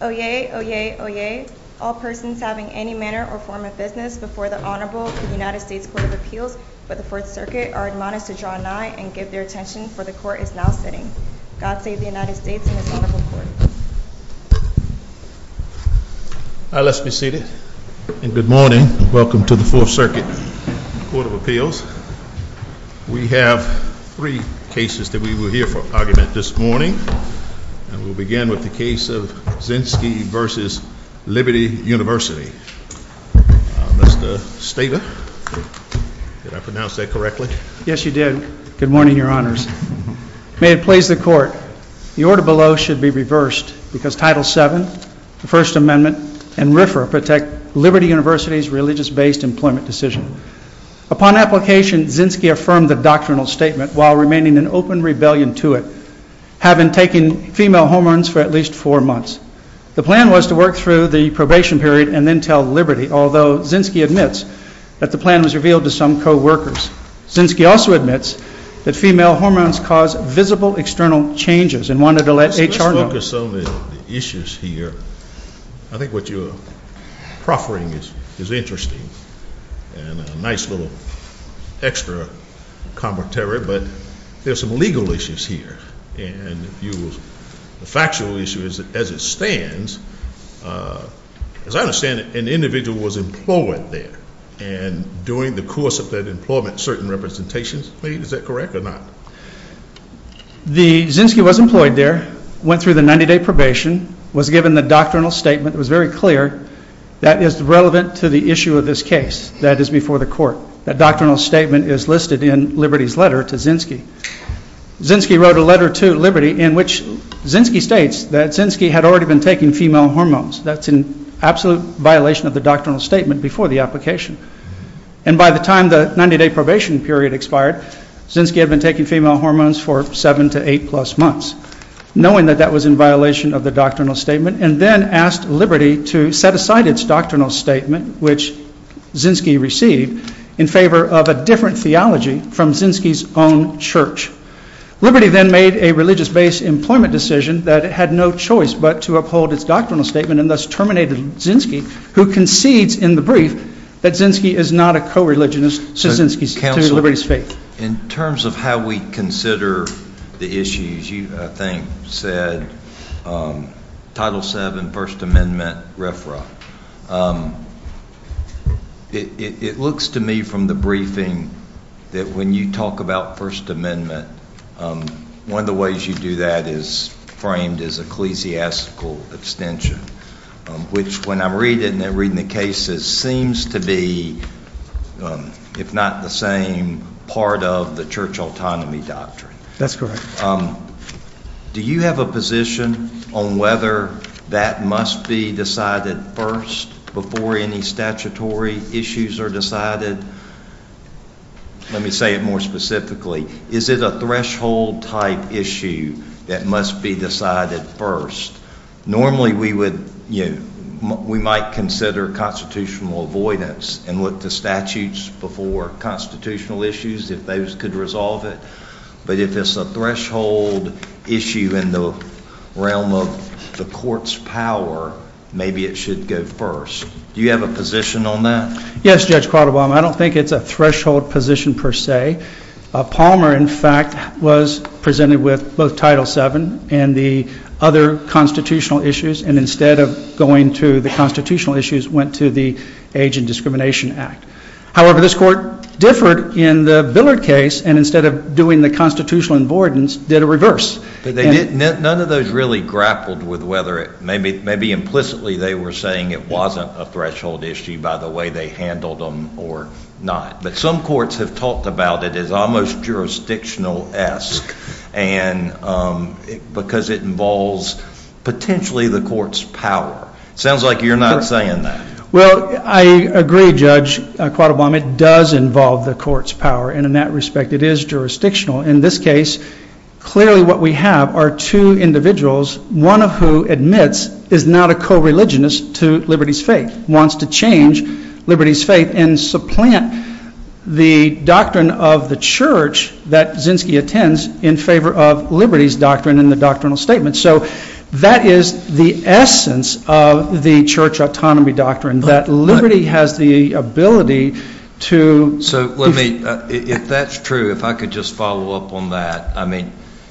Oyez, oyez, oyez, all persons having any manner or form of business before the Honorable United States Court of Appeals of the Fourth Circuit are admonished to draw nigh and give their attention, for the Court is now sitting. God save the United States and His Honorable Court. Let's be seated. And good morning. Welcome to the Fourth Circuit Court of Appeals. We have three cases that we will hear for argument this morning. And we'll begin with the case of Zinski v. Liberty University. Mr. Stata, did I pronounce that correctly? Yes, you did. Good morning, Your Honors. May it please the Court, the order below should be reversed, because Title VII, the First Amendment, and RFRA protect Liberty University's religious-based employment decision. Upon application, Zinski affirmed the doctrinal statement while remaining in open rebellion to it, having taken female hormones for at least four months. The plan was to work through the probation period and then tell Liberty, although Zinski admits that the plan was revealed to some co-workers. Zinski also admits that female hormones cause visible external changes and wanted to let HR know. Let's focus on the issues here. I think what you're proffering is interesting and a nice little extra commentary, but there's some legal issues here. And the factual issue is that as it stands, as I understand it, an individual was employed there. And during the course of that employment, certain representations were made. Is that correct or not? The Zinski was employed there, went through the 90-day probation, was given the doctrinal statement that was very clear that is relevant to the issue of this case that is before the Court. That doctrinal statement is listed in Liberty's letter to Zinski. Zinski wrote a letter to Liberty in which Zinski states that Zinski had already been taking female hormones. That's an absolute violation of the doctrinal statement before the application. And by the time the 90-day probation period expired, Zinski had been taking female hormones for seven to eight-plus months, knowing that that was in violation of the doctrinal statement, and then asked Liberty to set aside its doctrinal statement, which Zinski received, in favor of a different theology from Zinski's own church. Liberty then made a religious-based employment decision that it had no choice but to uphold its doctrinal statement and thus terminated Zinski, who concedes in the brief that Zinski is not a co-religionist to Liberty's faith. In terms of how we consider the issues, you, I think, said Title VII, First Amendment, RFRA. It looks to me from the briefing that when you talk about First Amendment, one of the ways you do that is framed as ecclesiastical extension, which, when I read it and I read the cases, seems to be, if not the same, part of the church autonomy doctrine. That's correct. Do you have a position on whether that must be decided first before any statutory issues are decided? Let me say it more specifically. Is it a threshold-type issue that must be decided first? Normally, we would, you know, we might consider constitutional avoidance and look to statutes before constitutional issues if those could resolve it, but if it's a threshold issue in the realm of the court's power, maybe it should go first. Do you have a position on that? Yes, Judge Qualterbaum. I don't think it's a threshold position per se. Palmer, in fact, was presented with both Title VII and the other constitutional issues, and instead of going to the constitutional issues, went to the Age and Discrimination Act. However, this court differed in the Billard case, and instead of doing the constitutional avoidance, did a reverse. None of those really grappled with whether it, maybe implicitly they were saying it wasn't a threshold issue by the way they handled them or not, but some courts have talked about it as almost jurisdictional-esque because it involves potentially the court's power. It sounds like you're not saying that. Well, I agree, Judge Qualterbaum. It does involve the court's power, and in that respect, it is jurisdictional. In this case, clearly what we have are two individuals, one of whom admits is not a co-religionist to Liberty's Faith, wants to change Liberty's Faith and supplant the doctrine of the church that Zinsky attends in favor of Liberty's Doctrine in the doctrinal statement. So that is the essence of the church autonomy doctrine, that Liberty has the ability to… If that's true, if I could just follow up on that.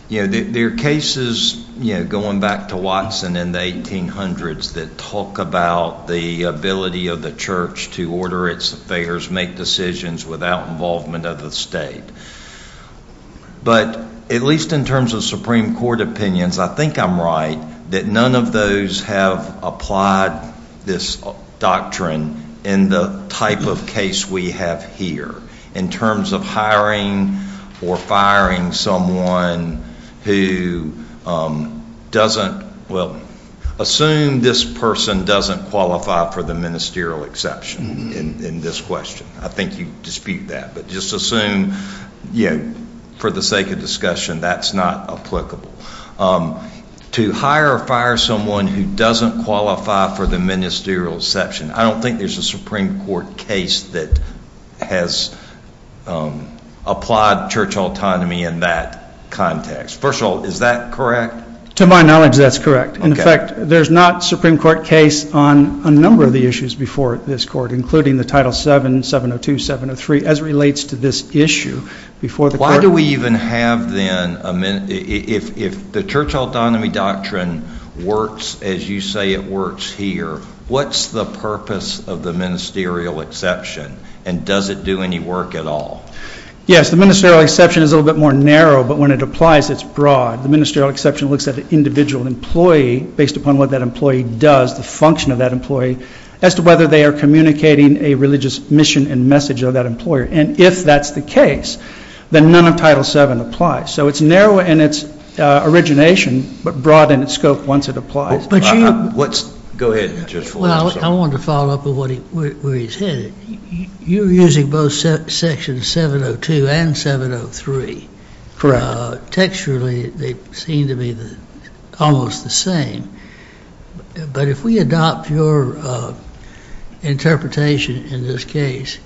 There are cases going back to Watson in the 1800s that talk about the ability of the church to order its affairs, make decisions without involvement of the state. But at least in terms of Supreme Court opinions, I think I'm right that none of those have applied this doctrine in the type of case we have here in terms of hiring or firing someone who doesn't… Well, assume this person doesn't qualify for the ministerial exception in this question. I think you dispute that, but just assume for the sake of discussion that's not applicable. To hire or fire someone who doesn't qualify for the ministerial exception, I don't think there's a Supreme Court case that has applied church autonomy in that context. First of all, is that correct? To my knowledge, that's correct. In fact, there's not a Supreme Court case on a number of the issues before this court, including the Title VII, 702, 703, as relates to this issue. Why do we even have then, if the church autonomy doctrine works as you say it works here, what's the purpose of the ministerial exception and does it do any work at all? Yes, the ministerial exception is a little bit more narrow, but when it applies, it's broad. The ministerial exception looks at the individual employee based upon what that employee does, the function of that employee, as to whether they are communicating a religious mission and message of that employer. And if that's the case, then none of Title VII applies. So it's narrow in its origination, but broad in its scope once it applies. I wanted to follow up on where he's headed. You're using both sections 702 and 703. Texturally, they seem to be almost the same. But if we adopt your interpretation in this case,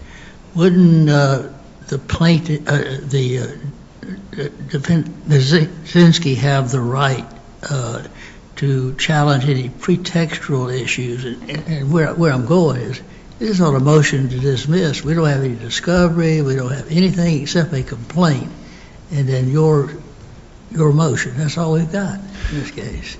wouldn't the plaintiff, the defendant, Zinsky, have the right to challenge any pretextual issues? And where I'm going is, this is not a motion to dismiss. We don't have any discovery. We don't have anything except a complaint. And then your motion, that's all we've got in this case.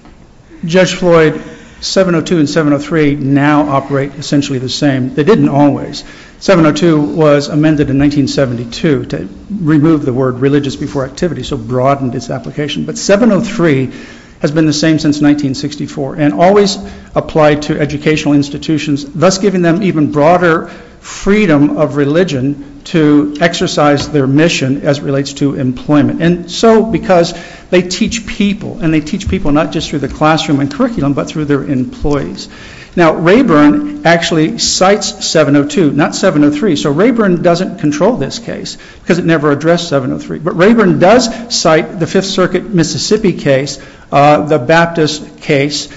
Judge Floyd, 702 and 703 now operate essentially the same. They didn't always. 702 was amended in 1972 to remove the word religious before activity, so broadened its application. But 703 has been the same since 1964 and always applied to educational institutions, thus giving them even broader freedom of religion to exercise their mission as it relates to employment. And so because they teach people, and they teach people not just through the classroom and curriculum, but through their employees. Now, Rayburn actually cites 702, not 703. So Rayburn doesn't control this case because it never addressed 703. But Rayburn does cite the Fifth Circuit Mississippi case, the Baptist case,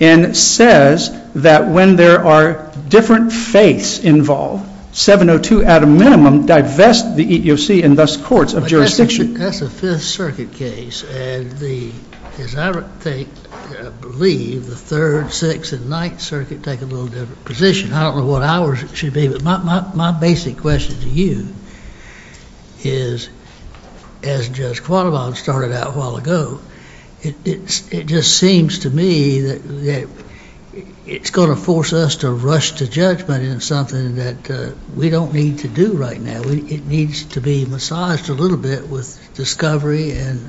and says that when there are different faiths involved, 702 at a minimum divests the EEOC and thus courts of jurisdiction. That's a Fifth Circuit case. And as I believe, the Third, Sixth, and Ninth Circuit take a little different position. I don't know what ours should be, but my basic question to you is, as Judge Quattlebaum started out a while ago, it just seems to me that it's going to force us to rush to judgment in something that we don't need to do right now. So it needs to be massaged a little bit with discovery and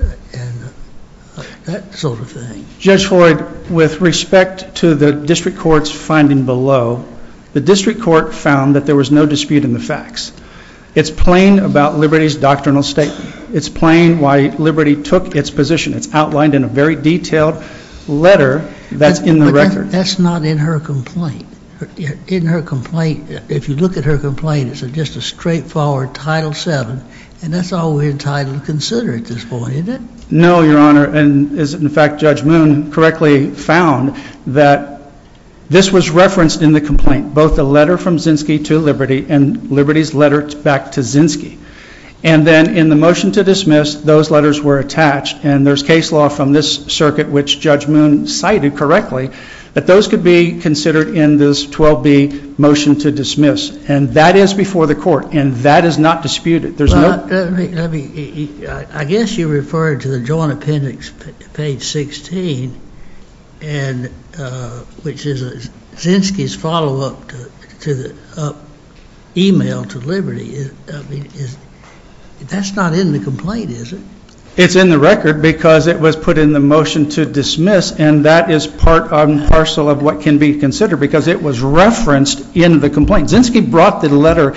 that sort of thing. Judge Floyd, with respect to the district court's finding below, the district court found that there was no dispute in the facts. It's plain about Liberty's doctrinal statement. It's plain why Liberty took its position. It's outlined in a very detailed letter that's in the record. That's not in her complaint. In her complaint, if you look at her complaint, it's just a straightforward Title VII, and that's all we're entitled to consider at this point, isn't it? No, Your Honor, and in fact, Judge Moon correctly found that this was referenced in the complaint, both the letter from Zinsky to Liberty and Liberty's letter back to Zinsky. And then in the motion to dismiss, those letters were attached, and there's case law from this circuit, which Judge Moon cited correctly, that those could be considered in this 12B motion to dismiss. And that is before the court, and that is not disputed. I guess you referred to the Joint Appendix, page 16, which is Zinsky's follow-up email to Liberty. That's not in the complaint, is it? It's in the record because it was put in the motion to dismiss, and that is part and parcel of what can be considered because it was referenced in the complaint. Zinsky brought the letter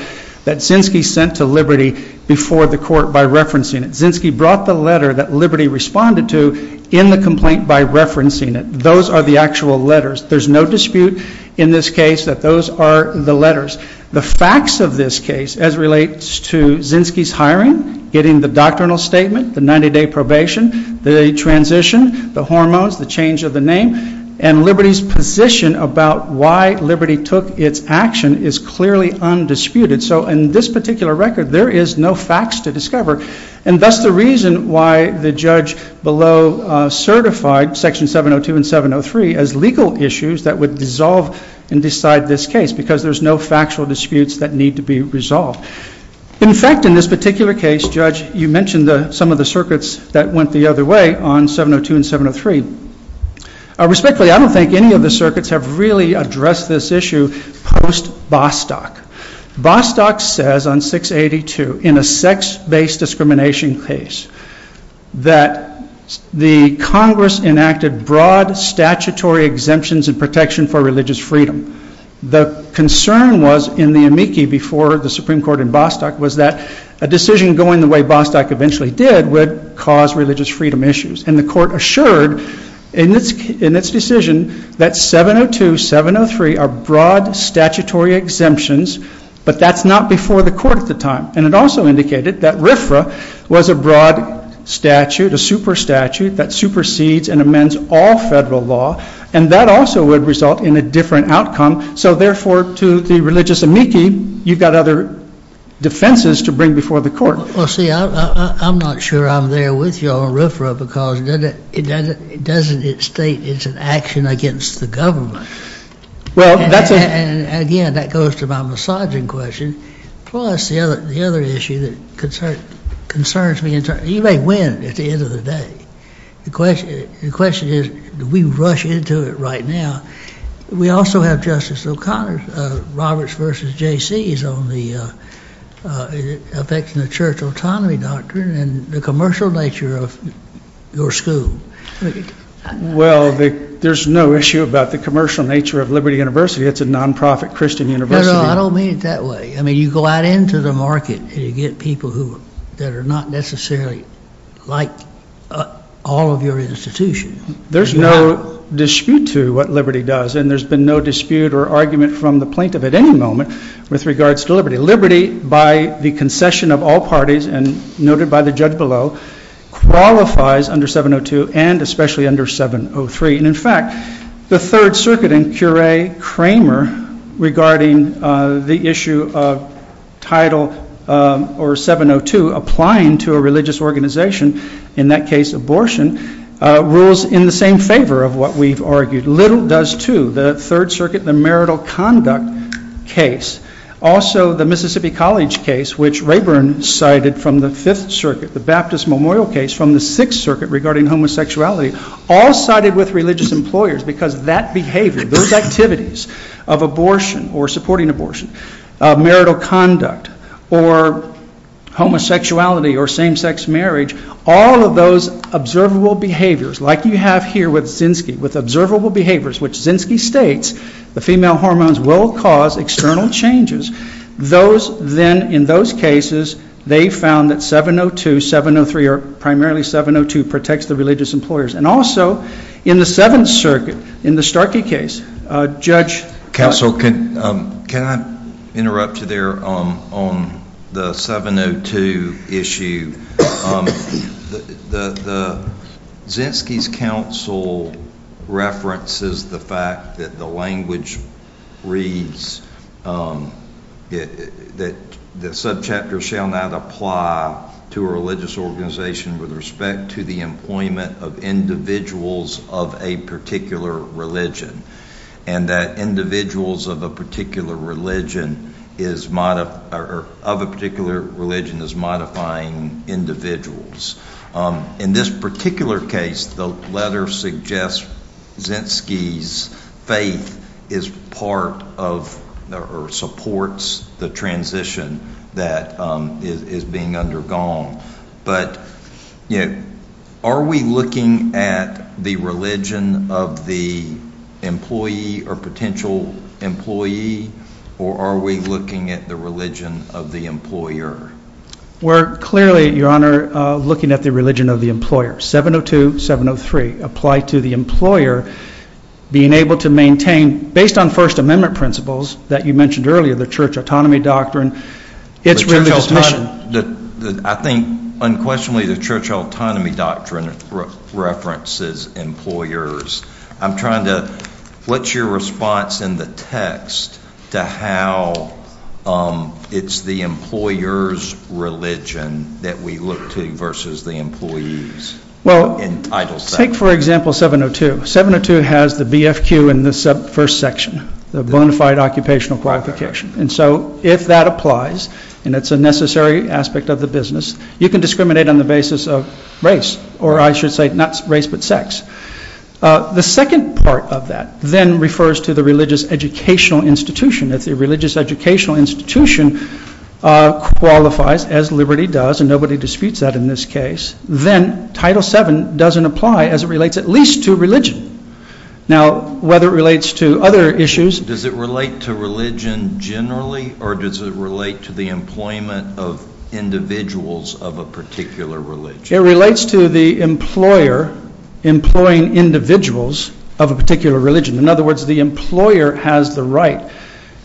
that Zinsky sent to Liberty before the court by referencing it. Zinsky brought the letter that Liberty responded to in the complaint by referencing it. Those are the actual letters. There's no dispute in this case that those are the letters. The facts of this case as relates to Zinsky's hiring, getting the doctrinal statement, the 90-day probation, the transition, the hormones, the change of the name, and Liberty's position about why Liberty took its action is clearly undisputed. So in this particular record, there is no facts to discover. And that's the reason why the judge below certified Section 702 and 703 as legal issues that would dissolve and decide this case because there's no factual disputes that need to be resolved. In fact, in this particular case, Judge, you mentioned some of the circuits that went the other way on 702 and 703. Respectfully, I don't think any of the circuits have really addressed this issue post-Bostock. Bostock says on 682 in a sex-based discrimination case that the Congress enacted broad statutory exemptions and protection for religious freedom. The concern was in the amici before the Supreme Court in Bostock was that a decision going the way Bostock eventually did would cause religious freedom issues. And the court assured in its decision that 702, 703 are broad statutory exemptions, but that's not before the court at the time. And it also indicated that RFRA was a broad statute, a super statute that supersedes and amends all federal law. And that also would result in a different outcome. So therefore, to the religious amici, you've got other defenses to bring before the court. Well, see, I'm not sure I'm there with you on RFRA because it doesn't state it's an action against the government. And again, that goes to my misogyny question. Plus, the other issue that concerns me, you may win at the end of the day. The question is, do we rush into it right now? We also have Justice O'Connor's Roberts v. J.C.'s on the effects on the church autonomy doctrine and the commercial nature of your school. Well, there's no issue about the commercial nature of Liberty University. It's a nonprofit Christian university. No, no, I don't mean it that way. I mean, you go out into the market and you get people who are not necessarily like all of your institutions. There's no dispute to what Liberty does, and there's been no dispute or argument from the plaintiff at any moment with regards to Liberty. Liberty, by the concession of all parties and noted by the judge below, qualifies under 702 and especially under 703. And in fact, the Third Circuit in Curay-Kramer regarding the issue of Title 702 applying to a religious organization, in that case abortion, rules in the same favor of what we've argued. Little does, too. The Third Circuit, the marital conduct case, also the Mississippi College case, which Rayburn cited from the Fifth Circuit, the Baptist Memorial case from the Sixth Circuit regarding homosexuality, all sided with religious employers because that behavior, those activities of abortion or supporting abortion, marital conduct or homosexuality or same-sex marriage, all of those observable behaviors like you have here with Zinsky, with observable behaviors, which Zinsky states the female hormones will cause external changes. Those then, in those cases, they found that 702, 703, or primarily 702 protects the religious employers. And also in the Seventh Circuit, in the Starkey case, Judge – Counsel, can I interrupt you there on the 702 issue? Zinsky's counsel references the fact that the language reads that the subchapter shall not apply to a religious organization with respect to the employment of individuals of a particular religion and that individuals of a particular religion is – of a particular religion is modifying individuals. In this particular case, the letter suggests Zinsky's faith is part of or supports the transition that is being undergone. But, you know, are we looking at the religion of the employee or potential employee or are we looking at the religion of the employer? We're clearly, Your Honor, looking at the religion of the employer. 702, 703 apply to the employer being able to maintain, based on First Amendment principles that you mentioned earlier, the church autonomy doctrine, its religious mission. I think, unquestionably, the church autonomy doctrine references employers. I'm trying to – what's your response in the text to how it's the employer's religion that we look to versus the employee's? Well, take, for example, 702. 702 has the BFQ in the first section, the bona fide occupational qualification. And so if that applies, and it's a necessary aspect of the business, you can discriminate on the basis of race or, I should say, not race but sex. The second part of that then refers to the religious educational institution. If the religious educational institution qualifies, as liberty does, and nobody disputes that in this case, then Title VII doesn't apply as it relates at least to religion. Now, whether it relates to other issues – Does it relate to religion generally or does it relate to the employment of individuals of a particular religion? It relates to the employer employing individuals of a particular religion. In other words, the employer has the right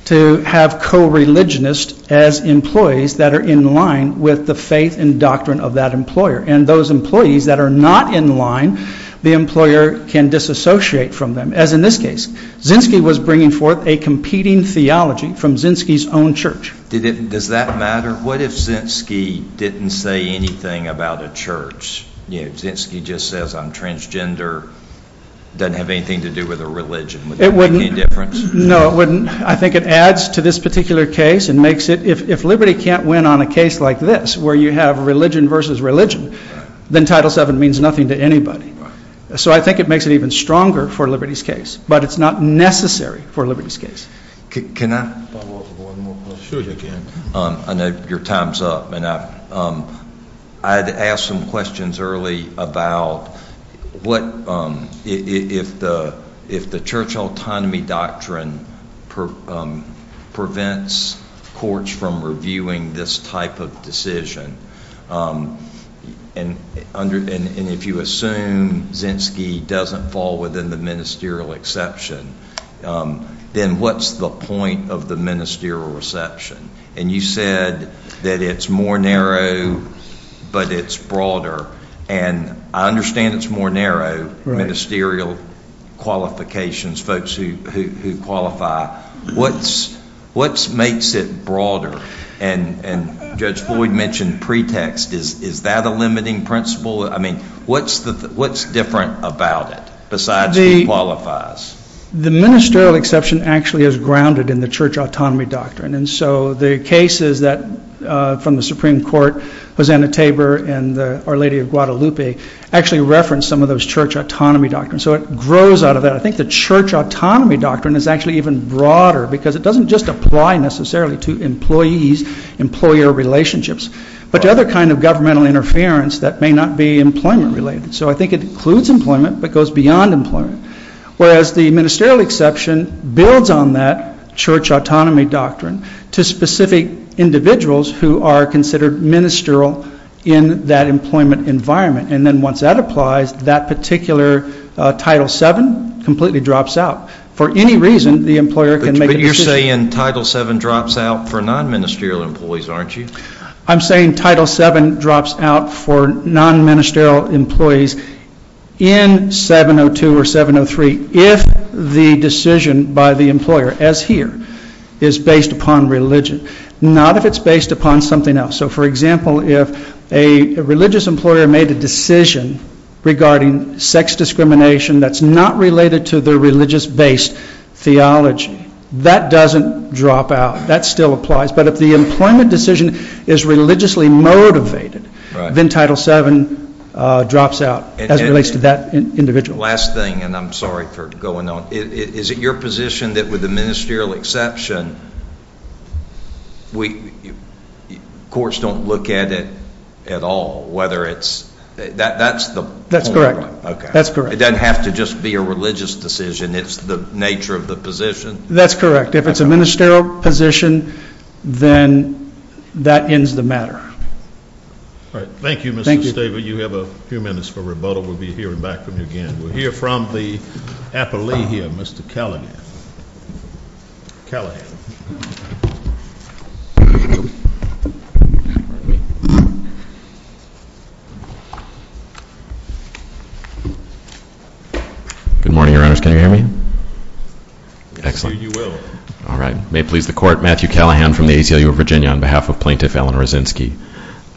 to have co-religionists as employees that are in line with the faith and doctrine of that employer. And those employees that are not in line, the employer can disassociate from them, as in this case. Zinsky was bringing forth a competing theology from Zinsky's own church. Does that matter? What if Zinsky didn't say anything about a church? Zinsky just says, I'm transgender, doesn't have anything to do with a religion. Would that make any difference? No, it wouldn't. I think it adds to this particular case and makes it – if liberty can't win on a case like this where you have religion versus religion, then Title VII means nothing to anybody. So I think it makes it even stronger for liberty's case. But it's not necessary for liberty's case. Can I follow up with one more question? Sure you can. I know your time's up. I had to ask some questions early about what – if the church autonomy doctrine prevents courts from reviewing this type of decision, and if you assume Zinsky doesn't fall within the ministerial exception, then what's the point of the ministerial reception? And you said that it's more narrow, but it's broader. And I understand it's more narrow, ministerial qualifications, folks who qualify. What makes it broader? And Judge Floyd mentioned pretext. Is that a limiting principle? I mean, what's different about it besides who qualifies? The ministerial exception actually is grounded in the church autonomy doctrine. And so the cases from the Supreme Court, Hosanna Tabor and Our Lady of Guadalupe, actually reference some of those church autonomy doctrines. So it grows out of that. I think the church autonomy doctrine is actually even broader because it doesn't just apply necessarily to employees, employer relationships, but to other kinds of governmental interference that may not be employment-related. So I think it includes employment but goes beyond employment. Whereas the ministerial exception builds on that church autonomy doctrine to specific individuals who are considered ministerial in that employment environment. And then once that applies, that particular Title VII completely drops out. For any reason, the employer can make a decision. But you're saying Title VII drops out for non-ministerial employees, aren't you? I'm saying Title VII drops out for non-ministerial employees in 702 or 703 if the decision by the employer, as here, is based upon religion. Not if it's based upon something else. So, for example, if a religious employer made a decision regarding sex discrimination that's not related to their religious-based theology, that doesn't drop out. That still applies. But if the employment decision is religiously motivated, then Title VII drops out as it relates to that individual. Last thing, and I'm sorry for going on. Is it your position that with the ministerial exception, courts don't look at it at all? That's the point, right? It doesn't have to just be a religious decision. It's the nature of the position? That's correct. If it's a ministerial position, then that ends the matter. All right. Thank you, Mr. Staver. You have a few minutes for rebuttal. We'll be hearing back from you again. We'll hear from the Appellee here, Mr. Callahan. Good morning, Your Honors. Can you hear me? Excellent. All right. May it please the Court. Matthew Callahan from the ACLU of Virginia on behalf of Plaintiff Eleanor Zinsky.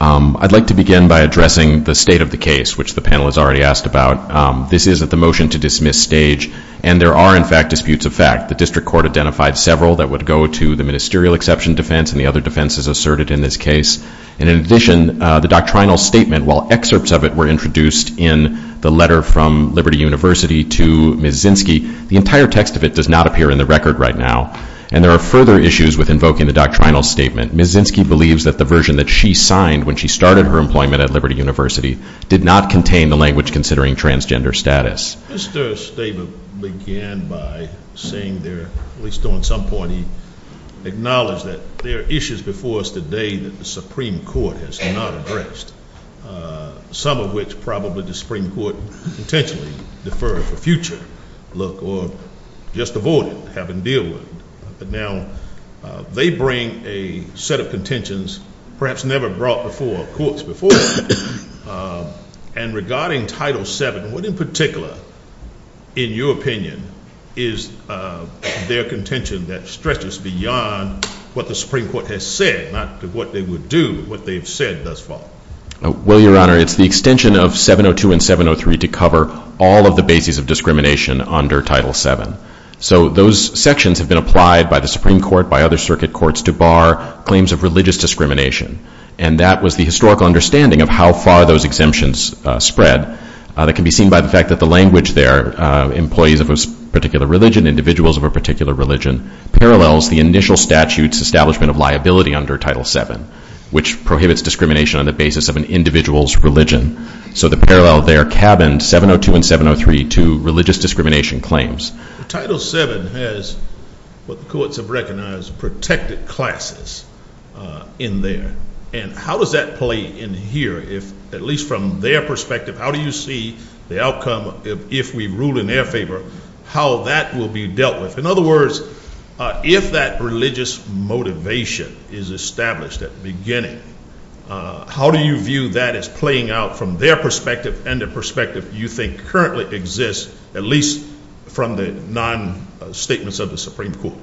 I'd like to begin by addressing the state of the case, which the panel has already asked about. This isn't the motion to dismiss stage, and there are, in fact, disputes of fact. The District Court identified several that would go to the ministerial exception defense and the other defenses asserted in this case. In addition, the doctrinal statement, while excerpts of it were introduced in the letter from Liberty University to Ms. Zinsky, the entire text of it does not appear in the record right now, and there are further issues with invoking the doctrinal statement. Ms. Zinsky believes that the version that she signed when she started her employment at Liberty University did not contain the language considering transgender status. Mr. Staver began by saying there, at least on some point, he acknowledged that there are issues before us today that the Supreme Court has not addressed, some of which probably the Supreme Court intentionally deferred for future look or just avoided having to deal with. But now they bring a set of contentions perhaps never brought before courts before, and regarding Title VII, what in particular, in your opinion, is their contention that stretches beyond what the Supreme Court has said, not what they would do, but what they've said thus far? Well, Your Honor, it's the extension of 702 and 703 to cover all of the bases of discrimination under Title VII. So those sections have been applied by the Supreme Court, by other circuit courts, to bar claims of religious discrimination, and that was the historical understanding of how far those exemptions spread. That can be seen by the fact that the language there, employees of a particular religion, individuals of a particular religion, parallels the initial statute's establishment of liability under Title VII, which prohibits discrimination on the basis of an individual's religion. So the parallel there cabins 702 and 703 to religious discrimination claims. Title VII has, what the courts have recognized, protected classes in there. And how does that play in here if, at least from their perspective, how do you see the outcome if we rule in their favor, how that will be dealt with? In other words, if that religious motivation is established at the beginning, how do you view that as playing out from their perspective and the perspective you think currently exists, at least from the non-statements of the Supreme Court?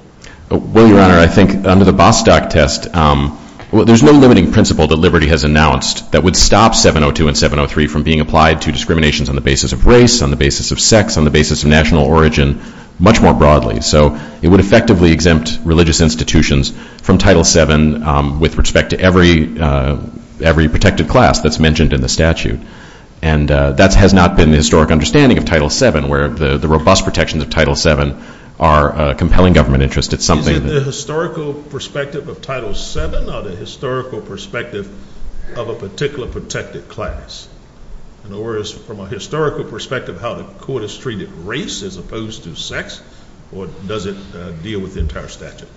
Well, Your Honor, I think under the Bostock test, there's no limiting principle that Liberty has announced that would stop 702 and 703 from being applied to discriminations on the basis of race, on the basis of sex, on the basis of national origin, much more broadly. So it would effectively exempt religious institutions from Title VII with respect to every protected class that's mentioned in the statute. And that has not been the historic understanding of Title VII, where the robust protections of Title VII are compelling government interest. Is it the historical perspective of Title VII or the historical perspective of a particular protected class? In other words, from a historical perspective, how the Court has treated race as opposed to sex, or does it deal with the entire statute?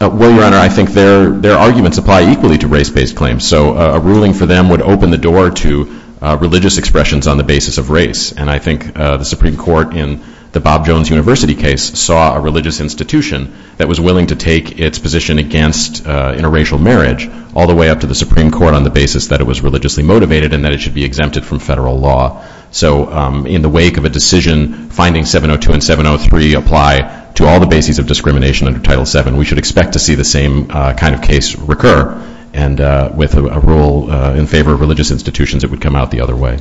Well, Your Honor, I think their arguments apply equally to race-based claims. So a ruling for them would open the door to religious expressions on the basis of race, and I think the Supreme Court in the Bob Jones University case saw a religious institution that was willing to take its position against interracial marriage all the way up to the Supreme Court on the basis that it was religiously motivated and that it should be exempted from federal law. So in the wake of a decision finding 702 and 703 apply to all the bases of discrimination under Title VII, we should expect to see the same kind of case recur. And with a rule in favor of religious institutions, it would come out the other way.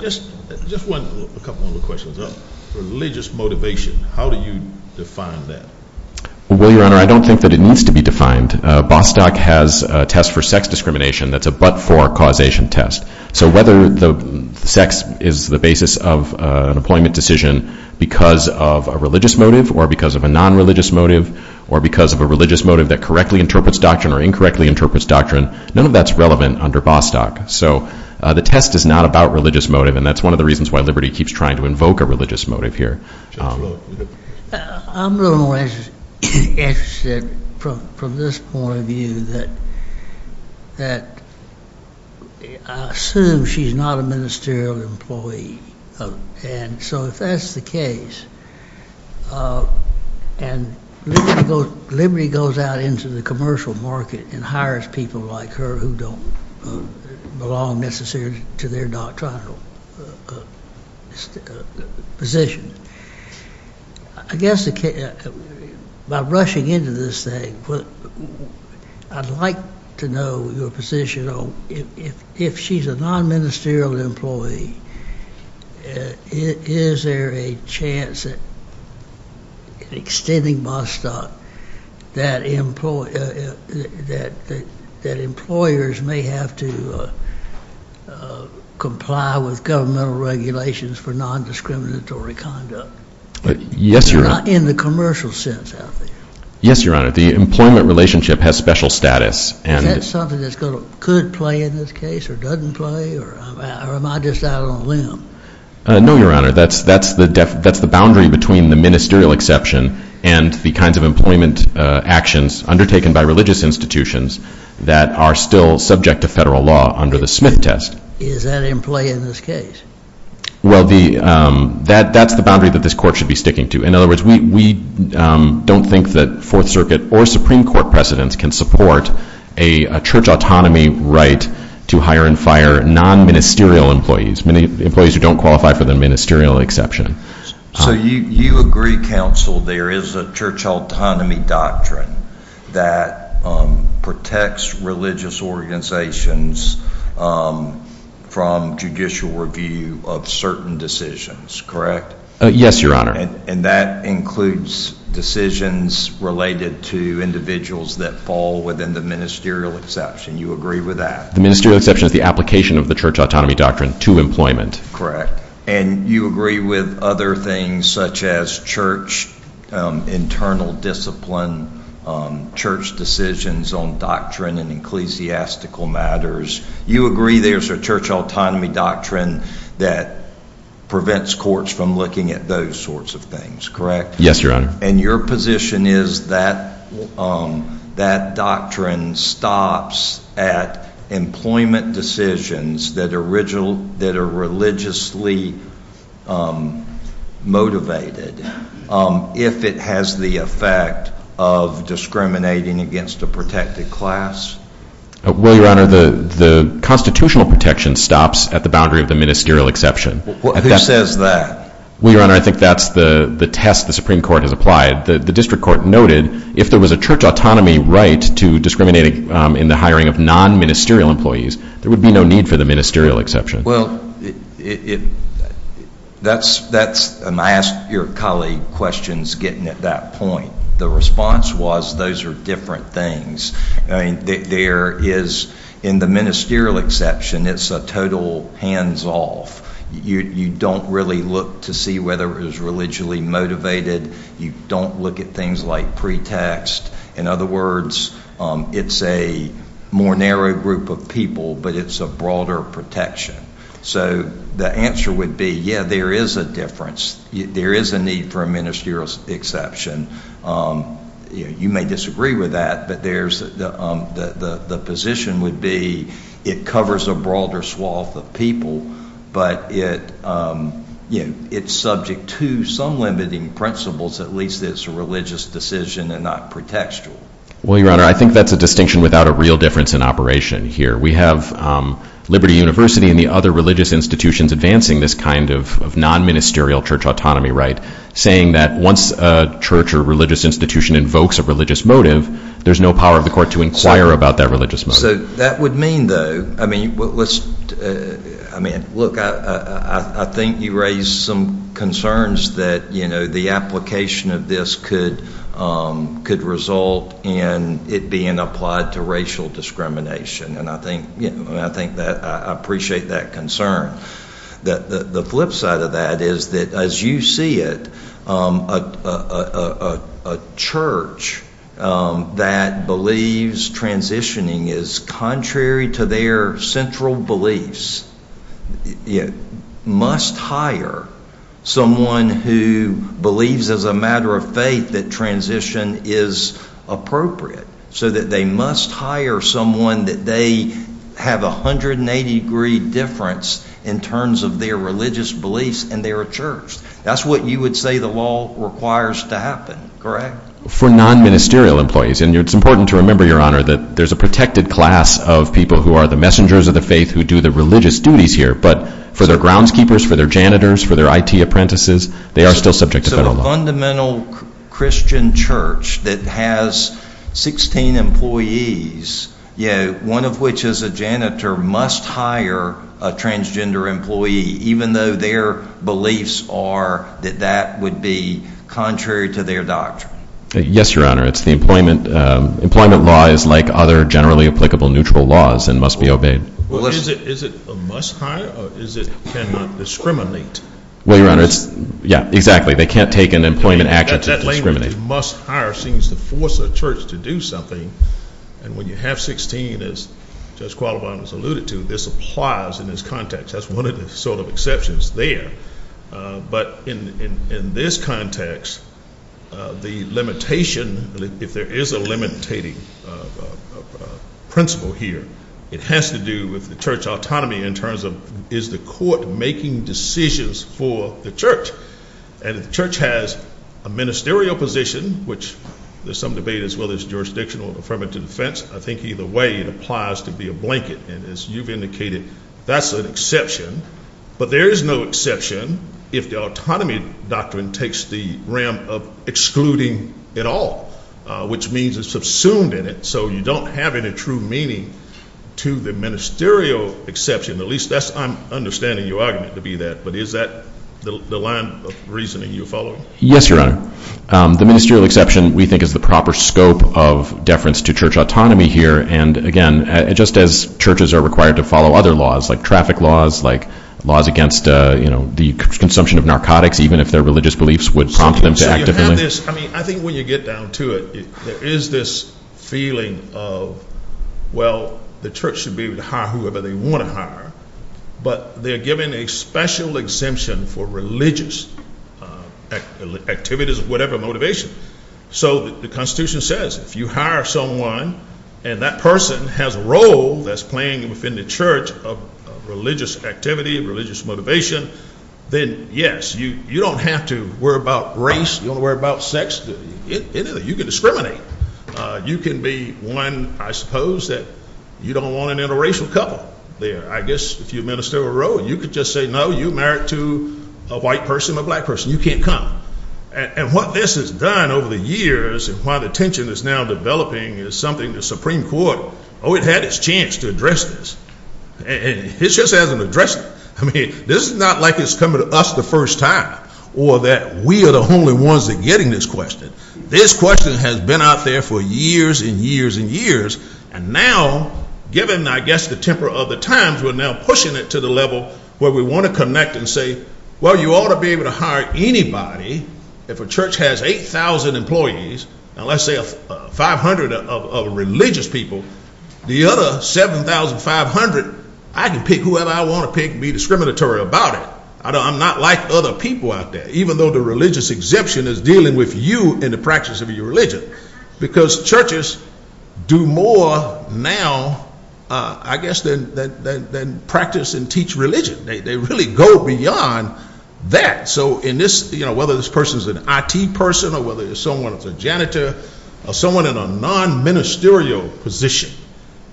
Just a couple more questions. Religious motivation, how do you define that? Well, Your Honor, I don't think that it needs to be defined. Bostock has a test for sex discrimination that's a but-for causation test. So whether the sex is the basis of an employment decision because of a religious motive or because of a nonreligious motive or because of a religious motive that correctly interprets doctrine or incorrectly interprets doctrine, none of that's relevant under Bostock. So the test is not about religious motive, and that's one of the reasons why Liberty keeps trying to invoke a religious motive here. I'm a little more interested from this point of view that I assume she's not a ministerial employee. And so if that's the case and Liberty goes out into the commercial market and hires people like her who don't belong necessarily to their doctrinal position, I guess by rushing into this thing, I'd like to know your position on if she's a nonministerial employee, is there a chance that in extending Bostock that employers may have to comply with governmental regulations for nondiscriminatory conduct? Yes, Your Honor. In the commercial sense out there. Yes, Your Honor. The employment relationship has special status. Is that something that could play in this case or doesn't play or am I just out on a limb? No, Your Honor, that's the boundary between the ministerial exception and the kinds of employment actions undertaken by religious institutions that are still subject to federal law under the Smith test. Is that in play in this case? Well, that's the boundary that this court should be sticking to. In other words, we don't think that Fourth Circuit or Supreme Court presidents can support a church autonomy right to hire and fire nonministerial employees, employees who don't qualify for the ministerial exception. So you agree, counsel, there is a church autonomy doctrine that protects religious organizations from judicial review of certain decisions, correct? Yes, Your Honor. And that includes decisions related to individuals that fall within the ministerial exception. You agree with that? The ministerial exception is the application of the church autonomy doctrine to employment. Correct. And you agree with other things such as church internal discipline, church decisions on doctrine and ecclesiastical matters. You agree there's a church autonomy doctrine that prevents courts from looking at those sorts of things, correct? Yes, Your Honor. And your position is that that doctrine stops at employment decisions that are religiously motivated if it has the effect of discriminating against a protected class? Well, Your Honor, the constitutional protection stops at the boundary of the ministerial exception. Who says that? Well, Your Honor, I think that's the test the Supreme Court has applied. The district court noted if there was a church autonomy right to discriminate in the hiring of nonministerial employees, there would be no need for the ministerial exception. Well, that's, and I asked your colleague questions getting at that point. The response was those are different things. There is, in the ministerial exception, it's a total hands-off. You don't really look to see whether it is religiously motivated. You don't look at things like pretext. In other words, it's a more narrow group of people, but it's a broader protection. So the answer would be, yeah, there is a difference. There is a need for a ministerial exception. You may disagree with that, but the position would be it covers a broader swath of people, but it's subject to some limiting principles, at least that it's a religious decision and not pretextual. Well, Your Honor, I think that's a distinction without a real difference in operation here. We have Liberty University and the other religious institutions advancing this kind of nonministerial church autonomy right, saying that once a church or religious institution invokes a religious motive, there's no power of the court to inquire about that religious motive. So that would mean, though, I mean, look, I think you raise some concerns that, you know, the application of this could result in it being applied to racial discrimination, and I think that I appreciate that concern. The flip side of that is that, as you see it, a church that believes transitioning is contrary to their central beliefs must hire someone who believes as a matter of faith that transition is appropriate, so that they must hire someone that they have a 180-degree difference in terms of their religious beliefs, and they're a church. That's what you would say the law requires to happen, correct? For nonministerial employees, and it's important to remember, Your Honor, that there's a protected class of people who are the messengers of the faith who do the religious duties here, but for their groundskeepers, for their janitors, for their IT apprentices, they are still subject to federal law. It's a fundamental Christian church that has 16 employees, one of which is a janitor, must hire a transgender employee even though their beliefs are that that would be contrary to their doctrine. Yes, Your Honor. It's the employment. Employment law is like other generally applicable neutral laws and must be obeyed. Well, is it a must hire or is it cannot discriminate? Well, Your Honor, it's, yeah, exactly. They can't take an employment action to discriminate. That language, must hire, seems to force a church to do something, and when you have 16, as Judge Qualibine has alluded to, this applies in this context. That's one of the sort of exceptions there. But in this context, the limitation, if there is a limitating principle here, it has to do with the church autonomy in terms of is the court making decisions for the church? And if the church has a ministerial position, which there's some debate as well as jurisdictional affirmative defense, I think either way it applies to be a blanket, and as you've indicated, that's an exception. But there is no exception if the autonomy doctrine takes the realm of excluding it all, which means it's subsumed in it, so you don't have any true meaning to the ministerial exception. At least I'm understanding your argument to be that, but is that the line of reasoning you follow? Yes, Your Honor. The ministerial exception, we think, is the proper scope of deference to church autonomy here, and again, just as churches are required to follow other laws like traffic laws, like laws against the consumption of narcotics, even if their religious beliefs would prompt them to actively. So you have this. I mean, I think when you get down to it, there is this feeling of, well, the church should be able to hire whoever they want to hire, but they're given a special exemption for religious activities of whatever motivation. So the Constitution says if you hire someone and that person has a role that's playing within the church of religious activity, religious motivation, then, yes, you don't have to worry about race. You don't have to worry about sex, anything. You can discriminate. You can be one, I suppose, that you don't want an interracial couple there. I guess if you minister a role, you could just say, no, you married to a white person, a black person. You can't come. And what this has done over the years and why the tension is now developing is something the Supreme Court, oh, it had its chance to address this, and it just hasn't addressed it. I mean, this is not like it's coming to us the first time or that we are the only ones that are getting this question. This question has been out there for years and years and years, and now, given, I guess, the temper of the times, we're now pushing it to the level where we want to connect and say, well, you ought to be able to hire anybody. If a church has 8,000 employees, now let's say 500 of religious people, the other 7,500, I can pick whoever I want to pick and be discriminatory about it. I'm not like other people out there, even though the religious exemption is dealing with you in the practice of your religion, because churches do more now, I guess, than practice and teach religion. They really go beyond that. So whether this person is an IT person or whether someone is a janitor or someone in a non-ministerial position,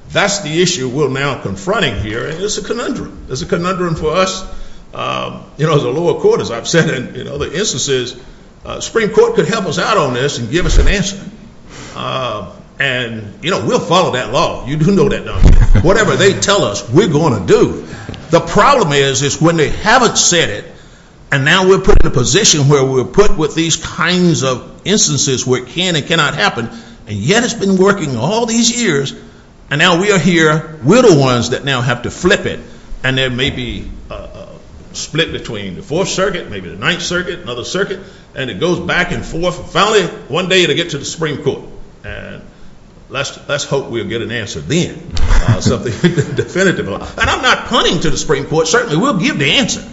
that's the issue we're now confronting here, and it's a conundrum. It's a conundrum for us. You know, the lower court, as I've said in other instances, the Supreme Court could help us out on this and give us an answer. And, you know, we'll follow that law. You do know that, don't you? Whatever they tell us, we're going to do. The problem is, is when they haven't said it, and now we're put in a position where we're put with these kinds of instances where it can and cannot happen, and yet it's been working all these years, and now we are here. We're the ones that now have to flip it, and there may be a split between the Fourth Circuit, maybe the Ninth Circuit, another circuit, and it goes back and forth. Finally, one day it'll get to the Supreme Court, and let's hope we'll get an answer then, something definitive. And I'm not punting to the Supreme Court. Certainly, we'll give the answer,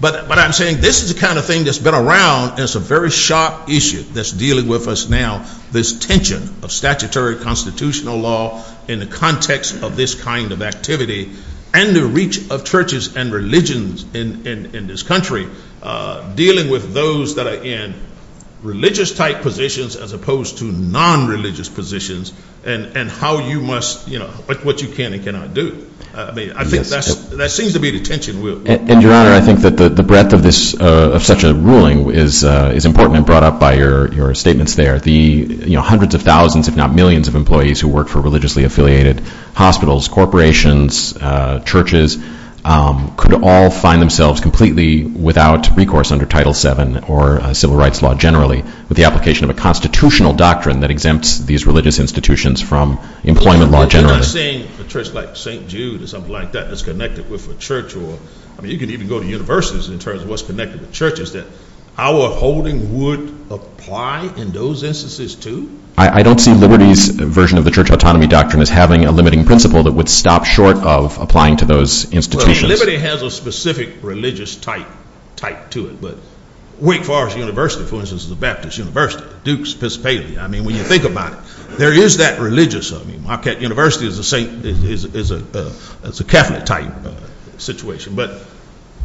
but I'm saying this is the kind of thing that's been around, and it's a very sharp issue that's dealing with us now, this tension of statutory constitutional law in the context of this kind of activity and the reach of churches and religions in this country, dealing with those that are in religious-type positions as opposed to non-religious positions, and how you must, you know, what you can and cannot do. I mean, I think that seems to be the tension we're in. And, Your Honor, I think that the breadth of such a ruling is important and brought up by your statements there. The hundreds of thousands, if not millions, of employees who work for religiously-affiliated hospitals, corporations, churches, could all find themselves completely without recourse under Title VII or civil rights law generally with the application of a constitutional doctrine that exempts these religious institutions from employment law generally. I'm not saying a church like St. Jude or something like that that's connected with a church. I mean, you could even go to universities in terms of what's connected with churches that our holding would apply in those instances to. I don't see Liberty's version of the church autonomy doctrine as having a limiting principle that would stop short of applying to those institutions. I mean, Liberty has a specific religious-type to it, but Wake Forest University, for instance, is a Baptist university. Duke's Episcopalian. I mean, when you think about it, there is that religious. I mean, Marquette University is a Catholic-type situation.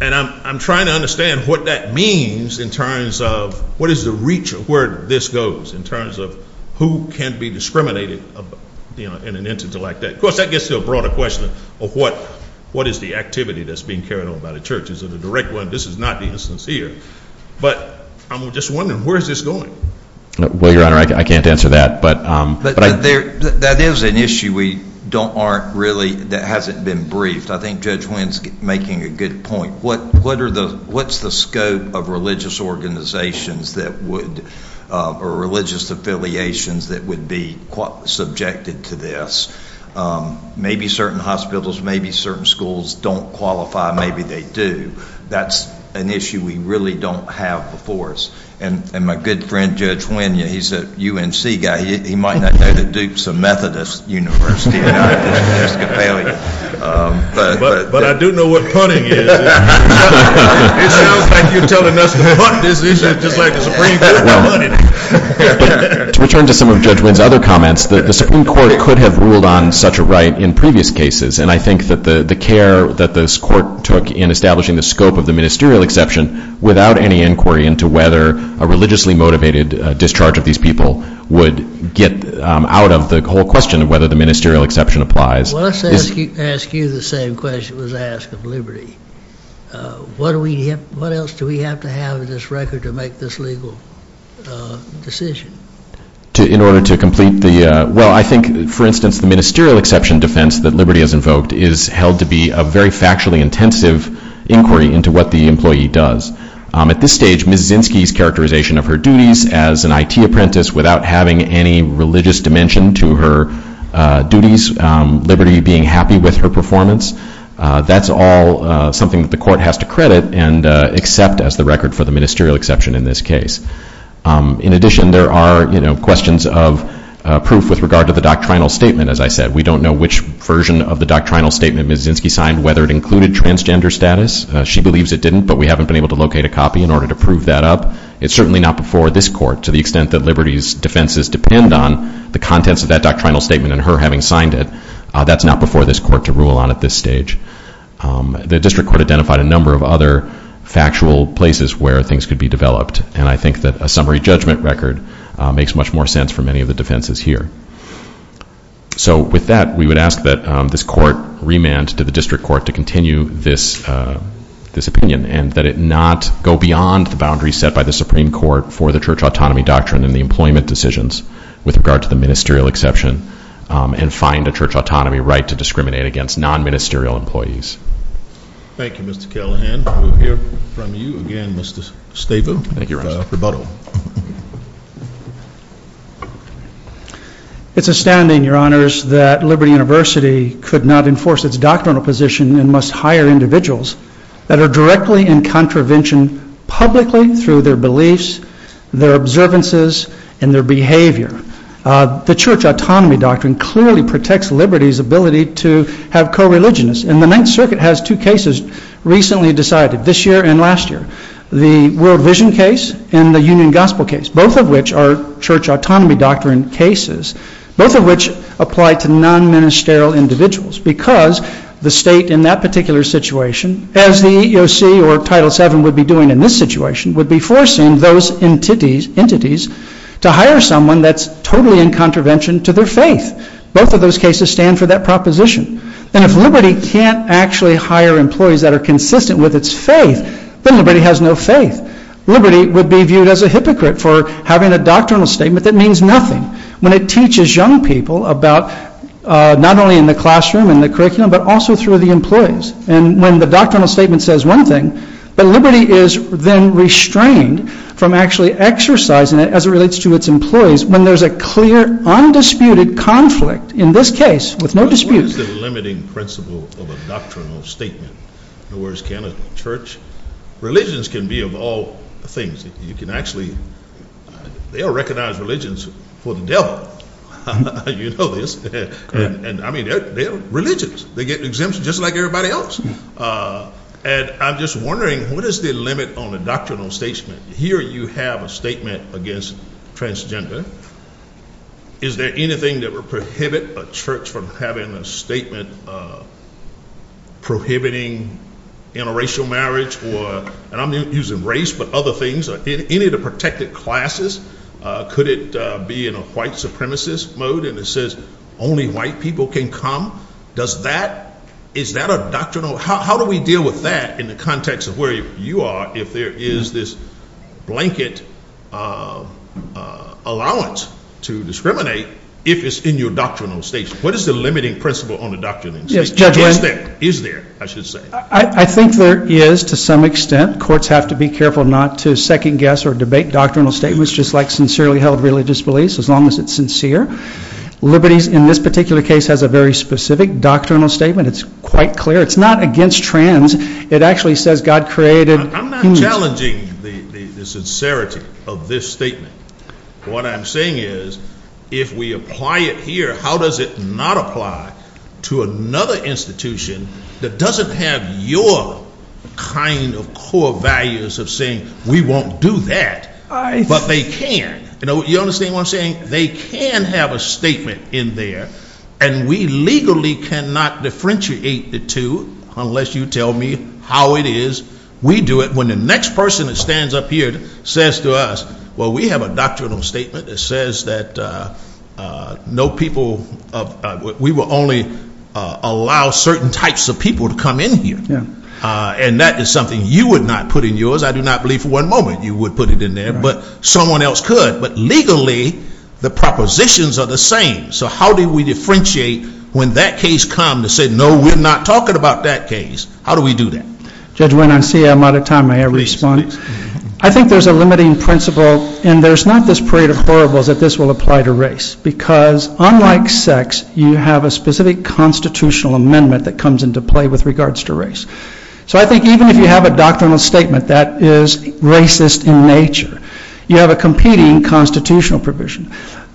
And I'm trying to understand what that means in terms of what is the reach of where this goes in terms of who can be discriminated in an instance like that. Of course, that gets to a broader question of what is the activity that's being carried on by the church. This is not the instance here. But I'm just wondering, where is this going? Well, Your Honor, I can't answer that. That is an issue that hasn't been briefed. I think Judge Winn's making a good point. What's the scope of religious organizations or religious affiliations that would be subjected to this? Maybe certain hospitals, maybe certain schools don't qualify. Maybe they do. That's an issue we really don't have before us. And my good friend Judge Winn, he's a UNC guy. He might not know that Duke's a Methodist university, not an Episcopalian. But I do know what punting is. It sounds like you're telling us to punt this issue just like the Supreme Court punted it. To return to some of Judge Winn's other comments, the Supreme Court could have ruled on such a right in previous cases. And I think that the care that this court took in establishing the scope of the ministerial exception, without any inquiry into whether a religiously motivated discharge of these people would get out of the whole question of whether the ministerial exception applies. Well, let's ask you the same question that was asked of Liberty. What else do we have to have in this record to make this legal decision? Well, I think, for instance, the ministerial exception defense that Liberty has invoked is held to be a very factually intensive inquiry into what the employee does. At this stage, Ms. Zinsky's characterization of her duties as an IT apprentice without having any religious dimension to her duties, Liberty being happy with her performance, that's all something that the court has to credit and accept as the record for the ministerial exception in this case. In addition, there are questions of proof with regard to the doctrinal statement, as I said. We don't know which version of the doctrinal statement Ms. Zinsky signed, whether it included transgender status. She believes it didn't, but we haven't been able to locate a copy in order to prove that up. It's certainly not before this court, to the extent that Liberty's defenses depend on the contents of that doctrinal statement and her having signed it, that's not before this court to rule on at this stage. The district court identified a number of other factual places where things could be developed, and I think that a summary judgment record makes much more sense for many of the defenses here. With that, we would ask that this court remand to the district court to continue this opinion and that it not go beyond the boundaries set by the Supreme Court for the church autonomy doctrine and the employment decisions with regard to the ministerial exception and find a church autonomy right to discriminate against non-ministerial employees. Thank you, Mr. Callahan. We'll hear from you again, Mr. Stavum, for the rebuttal. It's astounding, Your Honors, that Liberty University could not enforce its doctrinal position and must hire individuals that are directly in contravention publicly through their beliefs, their observances, and their behavior. The church autonomy doctrine clearly protects Liberty's ability to have co-religionists, and the Ninth Circuit has two cases recently decided, this year and last year, the World Vision case and the Union Gospel case, both of which are church autonomy doctrine cases, both of which apply to non-ministerial individuals because the state in that particular situation, as the EEOC or Title VII would be doing in this situation, would be forcing those entities to hire someone that's totally in contravention to their faith. Both of those cases stand for that proposition. And if Liberty can't actually hire employees that are consistent with its faith, then Liberty has no faith. Liberty would be viewed as a hypocrite for having a doctrinal statement that means nothing when it teaches young people about not only in the classroom and the curriculum but also through the employees. And when the doctrinal statement says one thing, but Liberty is then restrained from actually exercising it as it relates to its employees when there's a clear, undisputed conflict, in this case, with no dispute. What is the limiting principle of a doctrinal statement? In other words, can a church? Religions can be of all things. You can actually recognize religions for the devil. You know this. And, I mean, they're religions. They get exemptions just like everybody else. And I'm just wondering, what is the limit on a doctrinal statement? Here you have a statement against transgender. Is there anything that would prohibit a church from having a statement prohibiting interracial marriage or, and I'm using race, but other things, any of the protected classes? Could it be in a white supremacist mode and it says only white people can come? Does that, is that a doctrinal, how do we deal with that in the context of where you are if there is this blanket allowance to discriminate if it's in your doctrinal statement? What is the limiting principle on a doctrinal statement? Is there, I should say. I think there is to some extent. Courts have to be careful not to second guess or debate doctrinal statements just like sincerely held religious beliefs, as long as it's sincere. Liberties, in this particular case, has a very specific doctrinal statement. It's quite clear. It's not against trans. It actually says God created. I'm not challenging the sincerity of this statement. What I'm saying is if we apply it here, how does it not apply to another institution that doesn't have your kind of core values of saying we won't do that, but they can. You know, you understand what I'm saying? They can have a statement in there, and we legally cannot differentiate the two unless you tell me how it is we do it. When the next person that stands up here says to us, well, we have a doctrinal statement that says that no people, we will only allow certain types of people to come in here. And that is something you would not put in yours. I do not believe for one moment you would put it in there, but someone else could. But legally, the propositions are the same. So how do we differentiate when that case comes to say, no, we're not talking about that case. How do we do that? Judge Wayne, I see I'm out of time. May I respond? I think there's a limiting principle, and there's not this parade of horribles that this will apply to race because unlike sex, you have a specific constitutional amendment that comes into play with regards to race. So I think even if you have a doctrinal statement that is racist in nature, you have a competing constitutional provision.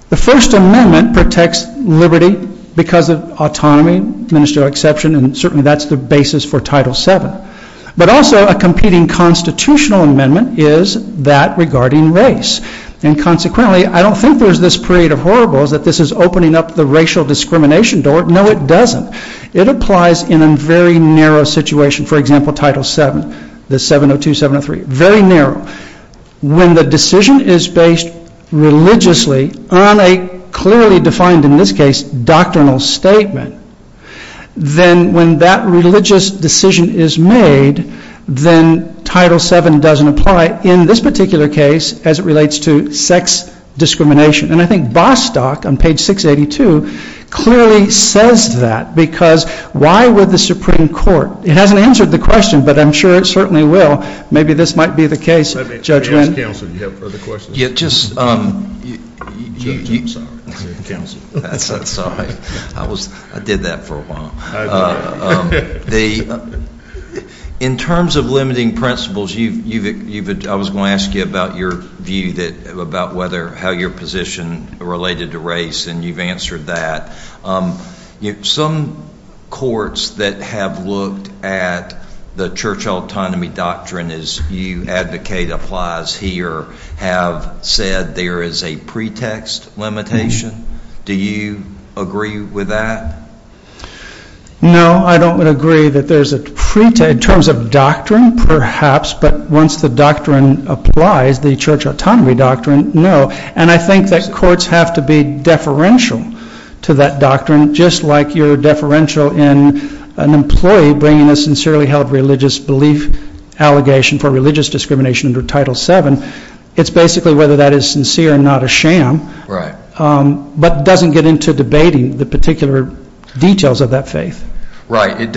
The First Amendment protects liberty because of autonomy, ministerial exception, and certainly that's the basis for Title VII. But also a competing constitutional amendment is that regarding race. And consequently, I don't think there's this parade of horribles that this is opening up the racial discrimination door. No, it doesn't. It applies in a very narrow situation. For example, Title VII, the 702, 703, very narrow. When the decision is based religiously on a clearly defined, in this case, doctrinal statement, then when that religious decision is made, then Title VII doesn't apply in this particular case as it relates to sex discrimination. And I think Bostock on page 682 clearly says that because why would the Supreme Court? It hasn't answered the question, but I'm sure it certainly will. Maybe this might be the case, Judge Wendt. Let me ask counsel if you have further questions. Judge, I'm sorry. Counsel. That's all right. I did that for a while. In terms of limiting principles, I was going to ask you about your view about how your position related to race, and you've answered that. Some courts that have looked at the church autonomy doctrine as you advocate applies here have said there is a pretext limitation. Do you agree with that? No, I don't agree that there's a pretext. In terms of doctrine, perhaps, but once the doctrine applies, the church autonomy doctrine, no. And I think that courts have to be deferential to that doctrine, just like you're deferential in an employee bringing a sincerely held religious belief allegation for religious discrimination under Title VII. It's basically whether that is sincere and not a sham, but it doesn't get into debating the particular details of that faith. Right.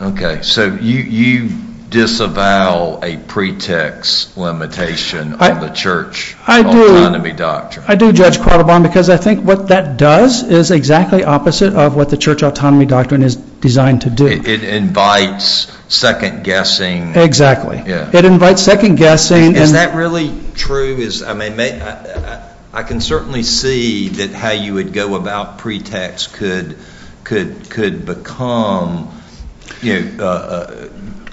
Okay. So you disavow a pretext limitation on the church autonomy doctrine? I do, Judge Quattlebaum, because I think what that does is exactly opposite of what the church autonomy doctrine is designed to do. It invites second-guessing. Exactly. It invites second-guessing. Is that really true? I mean, I can certainly see that how you would go about pretext could become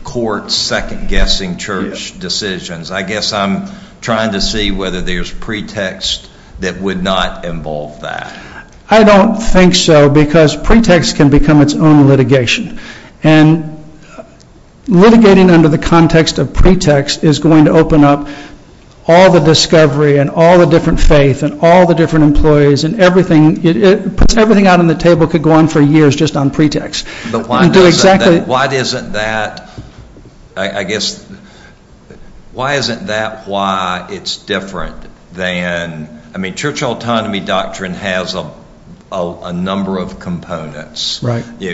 court second-guessing church decisions. I guess I'm trying to see whether there's pretext that would not involve that. I don't think so, because pretext can become its own litigation. And litigating under the context of pretext is going to open up all the discovery and all the different faith and all the different employees and everything out on the table could go on for years just on pretext. But why isn't that why it's different than – I mean, church autonomy doctrine has a number of components.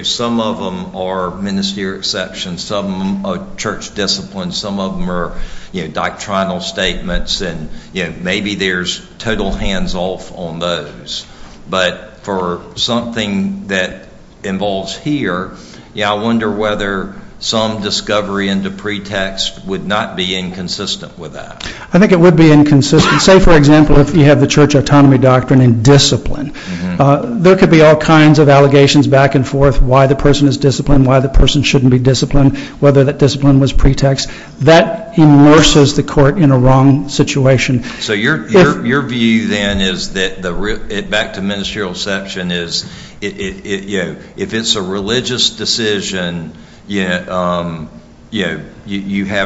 Some of them are ministerial exceptions. Some of them are church disciplines. Some of them are doctrinal statements. And maybe there's total hands-off on those. But for something that involves here, I wonder whether some discovery into pretext would not be inconsistent with that. I think it would be inconsistent. Say, for example, if you have the church autonomy doctrine in discipline, there could be all kinds of allegations back and forth, why the person is disciplined, why the person shouldn't be disciplined, whether that discipline was pretext. That immerses the court in a wrong situation. So your view then is that – back to ministerial exception – is if it's a religious decision, you have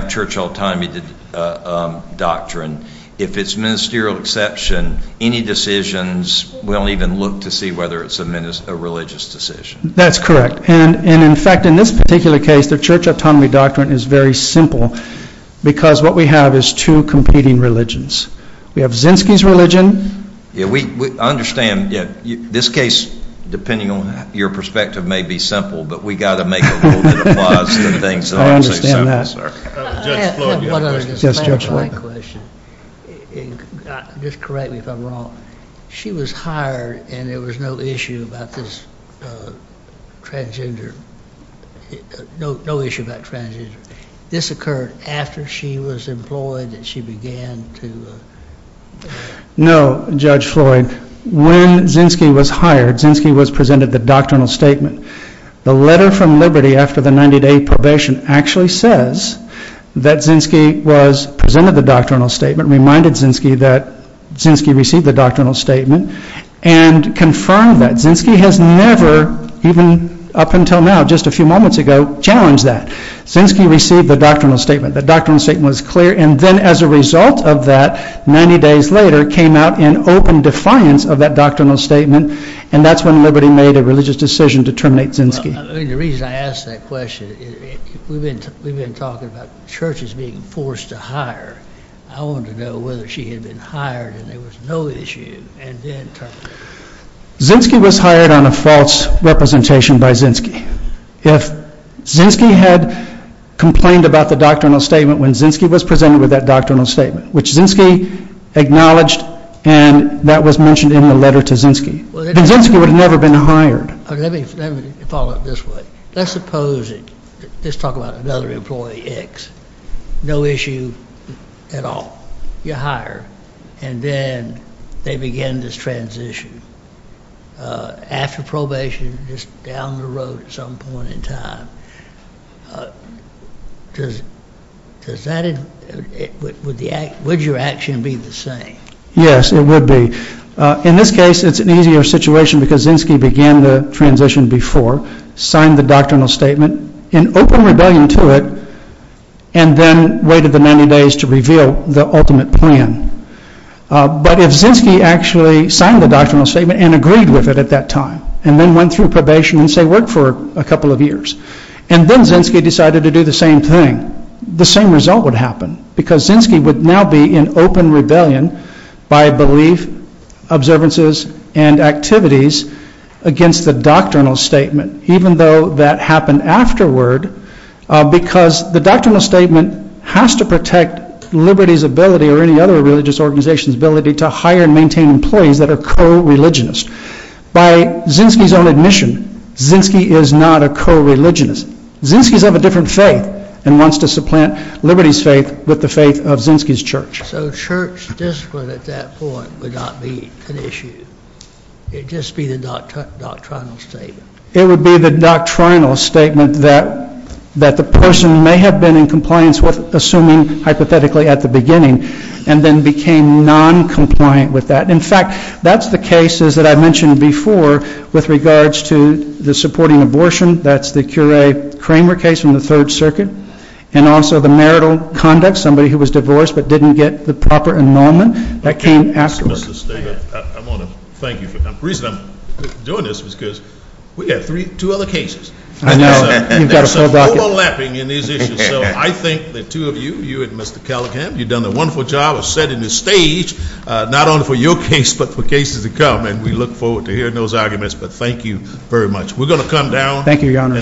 church autonomy doctrine. If it's ministerial exception, any decisions – we don't even look to see whether it's a religious decision. That's correct. And in fact, in this particular case, the church autonomy doctrine is very simple because what we have is two competing religions. We have Zinsky's religion. I understand. This case, depending on your perspective, may be simple, but we've got to make a rule that applies to things that aren't so simple. Judge Floyd. I have one other question. Just correct me if I'm wrong. She was hired and there was no issue about this transgender – no issue about transgender. This occurred after she was employed and she began to – No, Judge Floyd. When Zinsky was hired, Zinsky was presented the doctrinal statement. The letter from Liberty after the 90-day probation actually says that Zinsky was presented the doctrinal statement, reminded Zinsky that Zinsky received the doctrinal statement, and confirmed that. Zinsky has never, even up until now, just a few moments ago, challenged that. Zinsky received the doctrinal statement. The doctrinal statement was clear, and then as a result of that, 90 days later, came out in open defiance of that doctrinal statement, and that's when Liberty made a religious decision to terminate Zinsky. The reason I ask that question, we've been talking about churches being forced to hire. I want to know whether she had been hired and there was no issue and then terminated. Zinsky was hired on a false representation by Zinsky. If Zinsky had complained about the doctrinal statement when Zinsky was presented with that doctrinal statement, which Zinsky acknowledged and that was mentioned in the letter to Zinsky, then Zinsky would have never been hired. Let me follow up this way. Let's suppose – let's talk about another employee, X. No issue at all. You hire, and then they begin this transition. After probation, just down the road at some point in time. Would your action be the same? Yes, it would be. In this case, it's an easier situation because Zinsky began the transition before, signed the doctrinal statement, in open rebellion to it, and then waited the 90 days to reveal the ultimate plan. But if Zinsky actually signed the doctrinal statement and agreed with it at that time, and then went through probation and, say, worked for a couple of years, and then Zinsky decided to do the same thing, the same result would happen because Zinsky would now be in open rebellion by belief, observances, and activities against the doctrinal statement, even though that happened afterward because the doctrinal statement has to protect Liberty's ability or any other religious organization's ability to hire and maintain employees that are co-religionists. By Zinsky's own admission, Zinsky is not a co-religionist. Zinsky's of a different faith and wants to supplant Liberty's faith with the faith of Zinsky's church. So church discipline at that point would not be an issue. It'd just be the doctrinal statement. It would be the doctrinal statement that the person may have been in compliance with, assuming hypothetically at the beginning, and then became noncompliant with that. In fact, that's the cases that I mentioned before with regards to the supporting abortion. That's the Curay-Kramer case from the Third Circuit, and also the marital conduct, somebody who was divorced but didn't get the proper enrollment. That came afterward. I want to thank you for that. The reason I'm doing this is because we have two other cases. I know. You've got a full bracket. There's some overlapping in these issues, so I think the two of you, you and Mr. Callahan, you've done a wonderful job of setting the stage not only for your case but for cases to come, and we look forward to hearing those arguments, but thank you very much. We're going to come down. Thank you, Your Honor.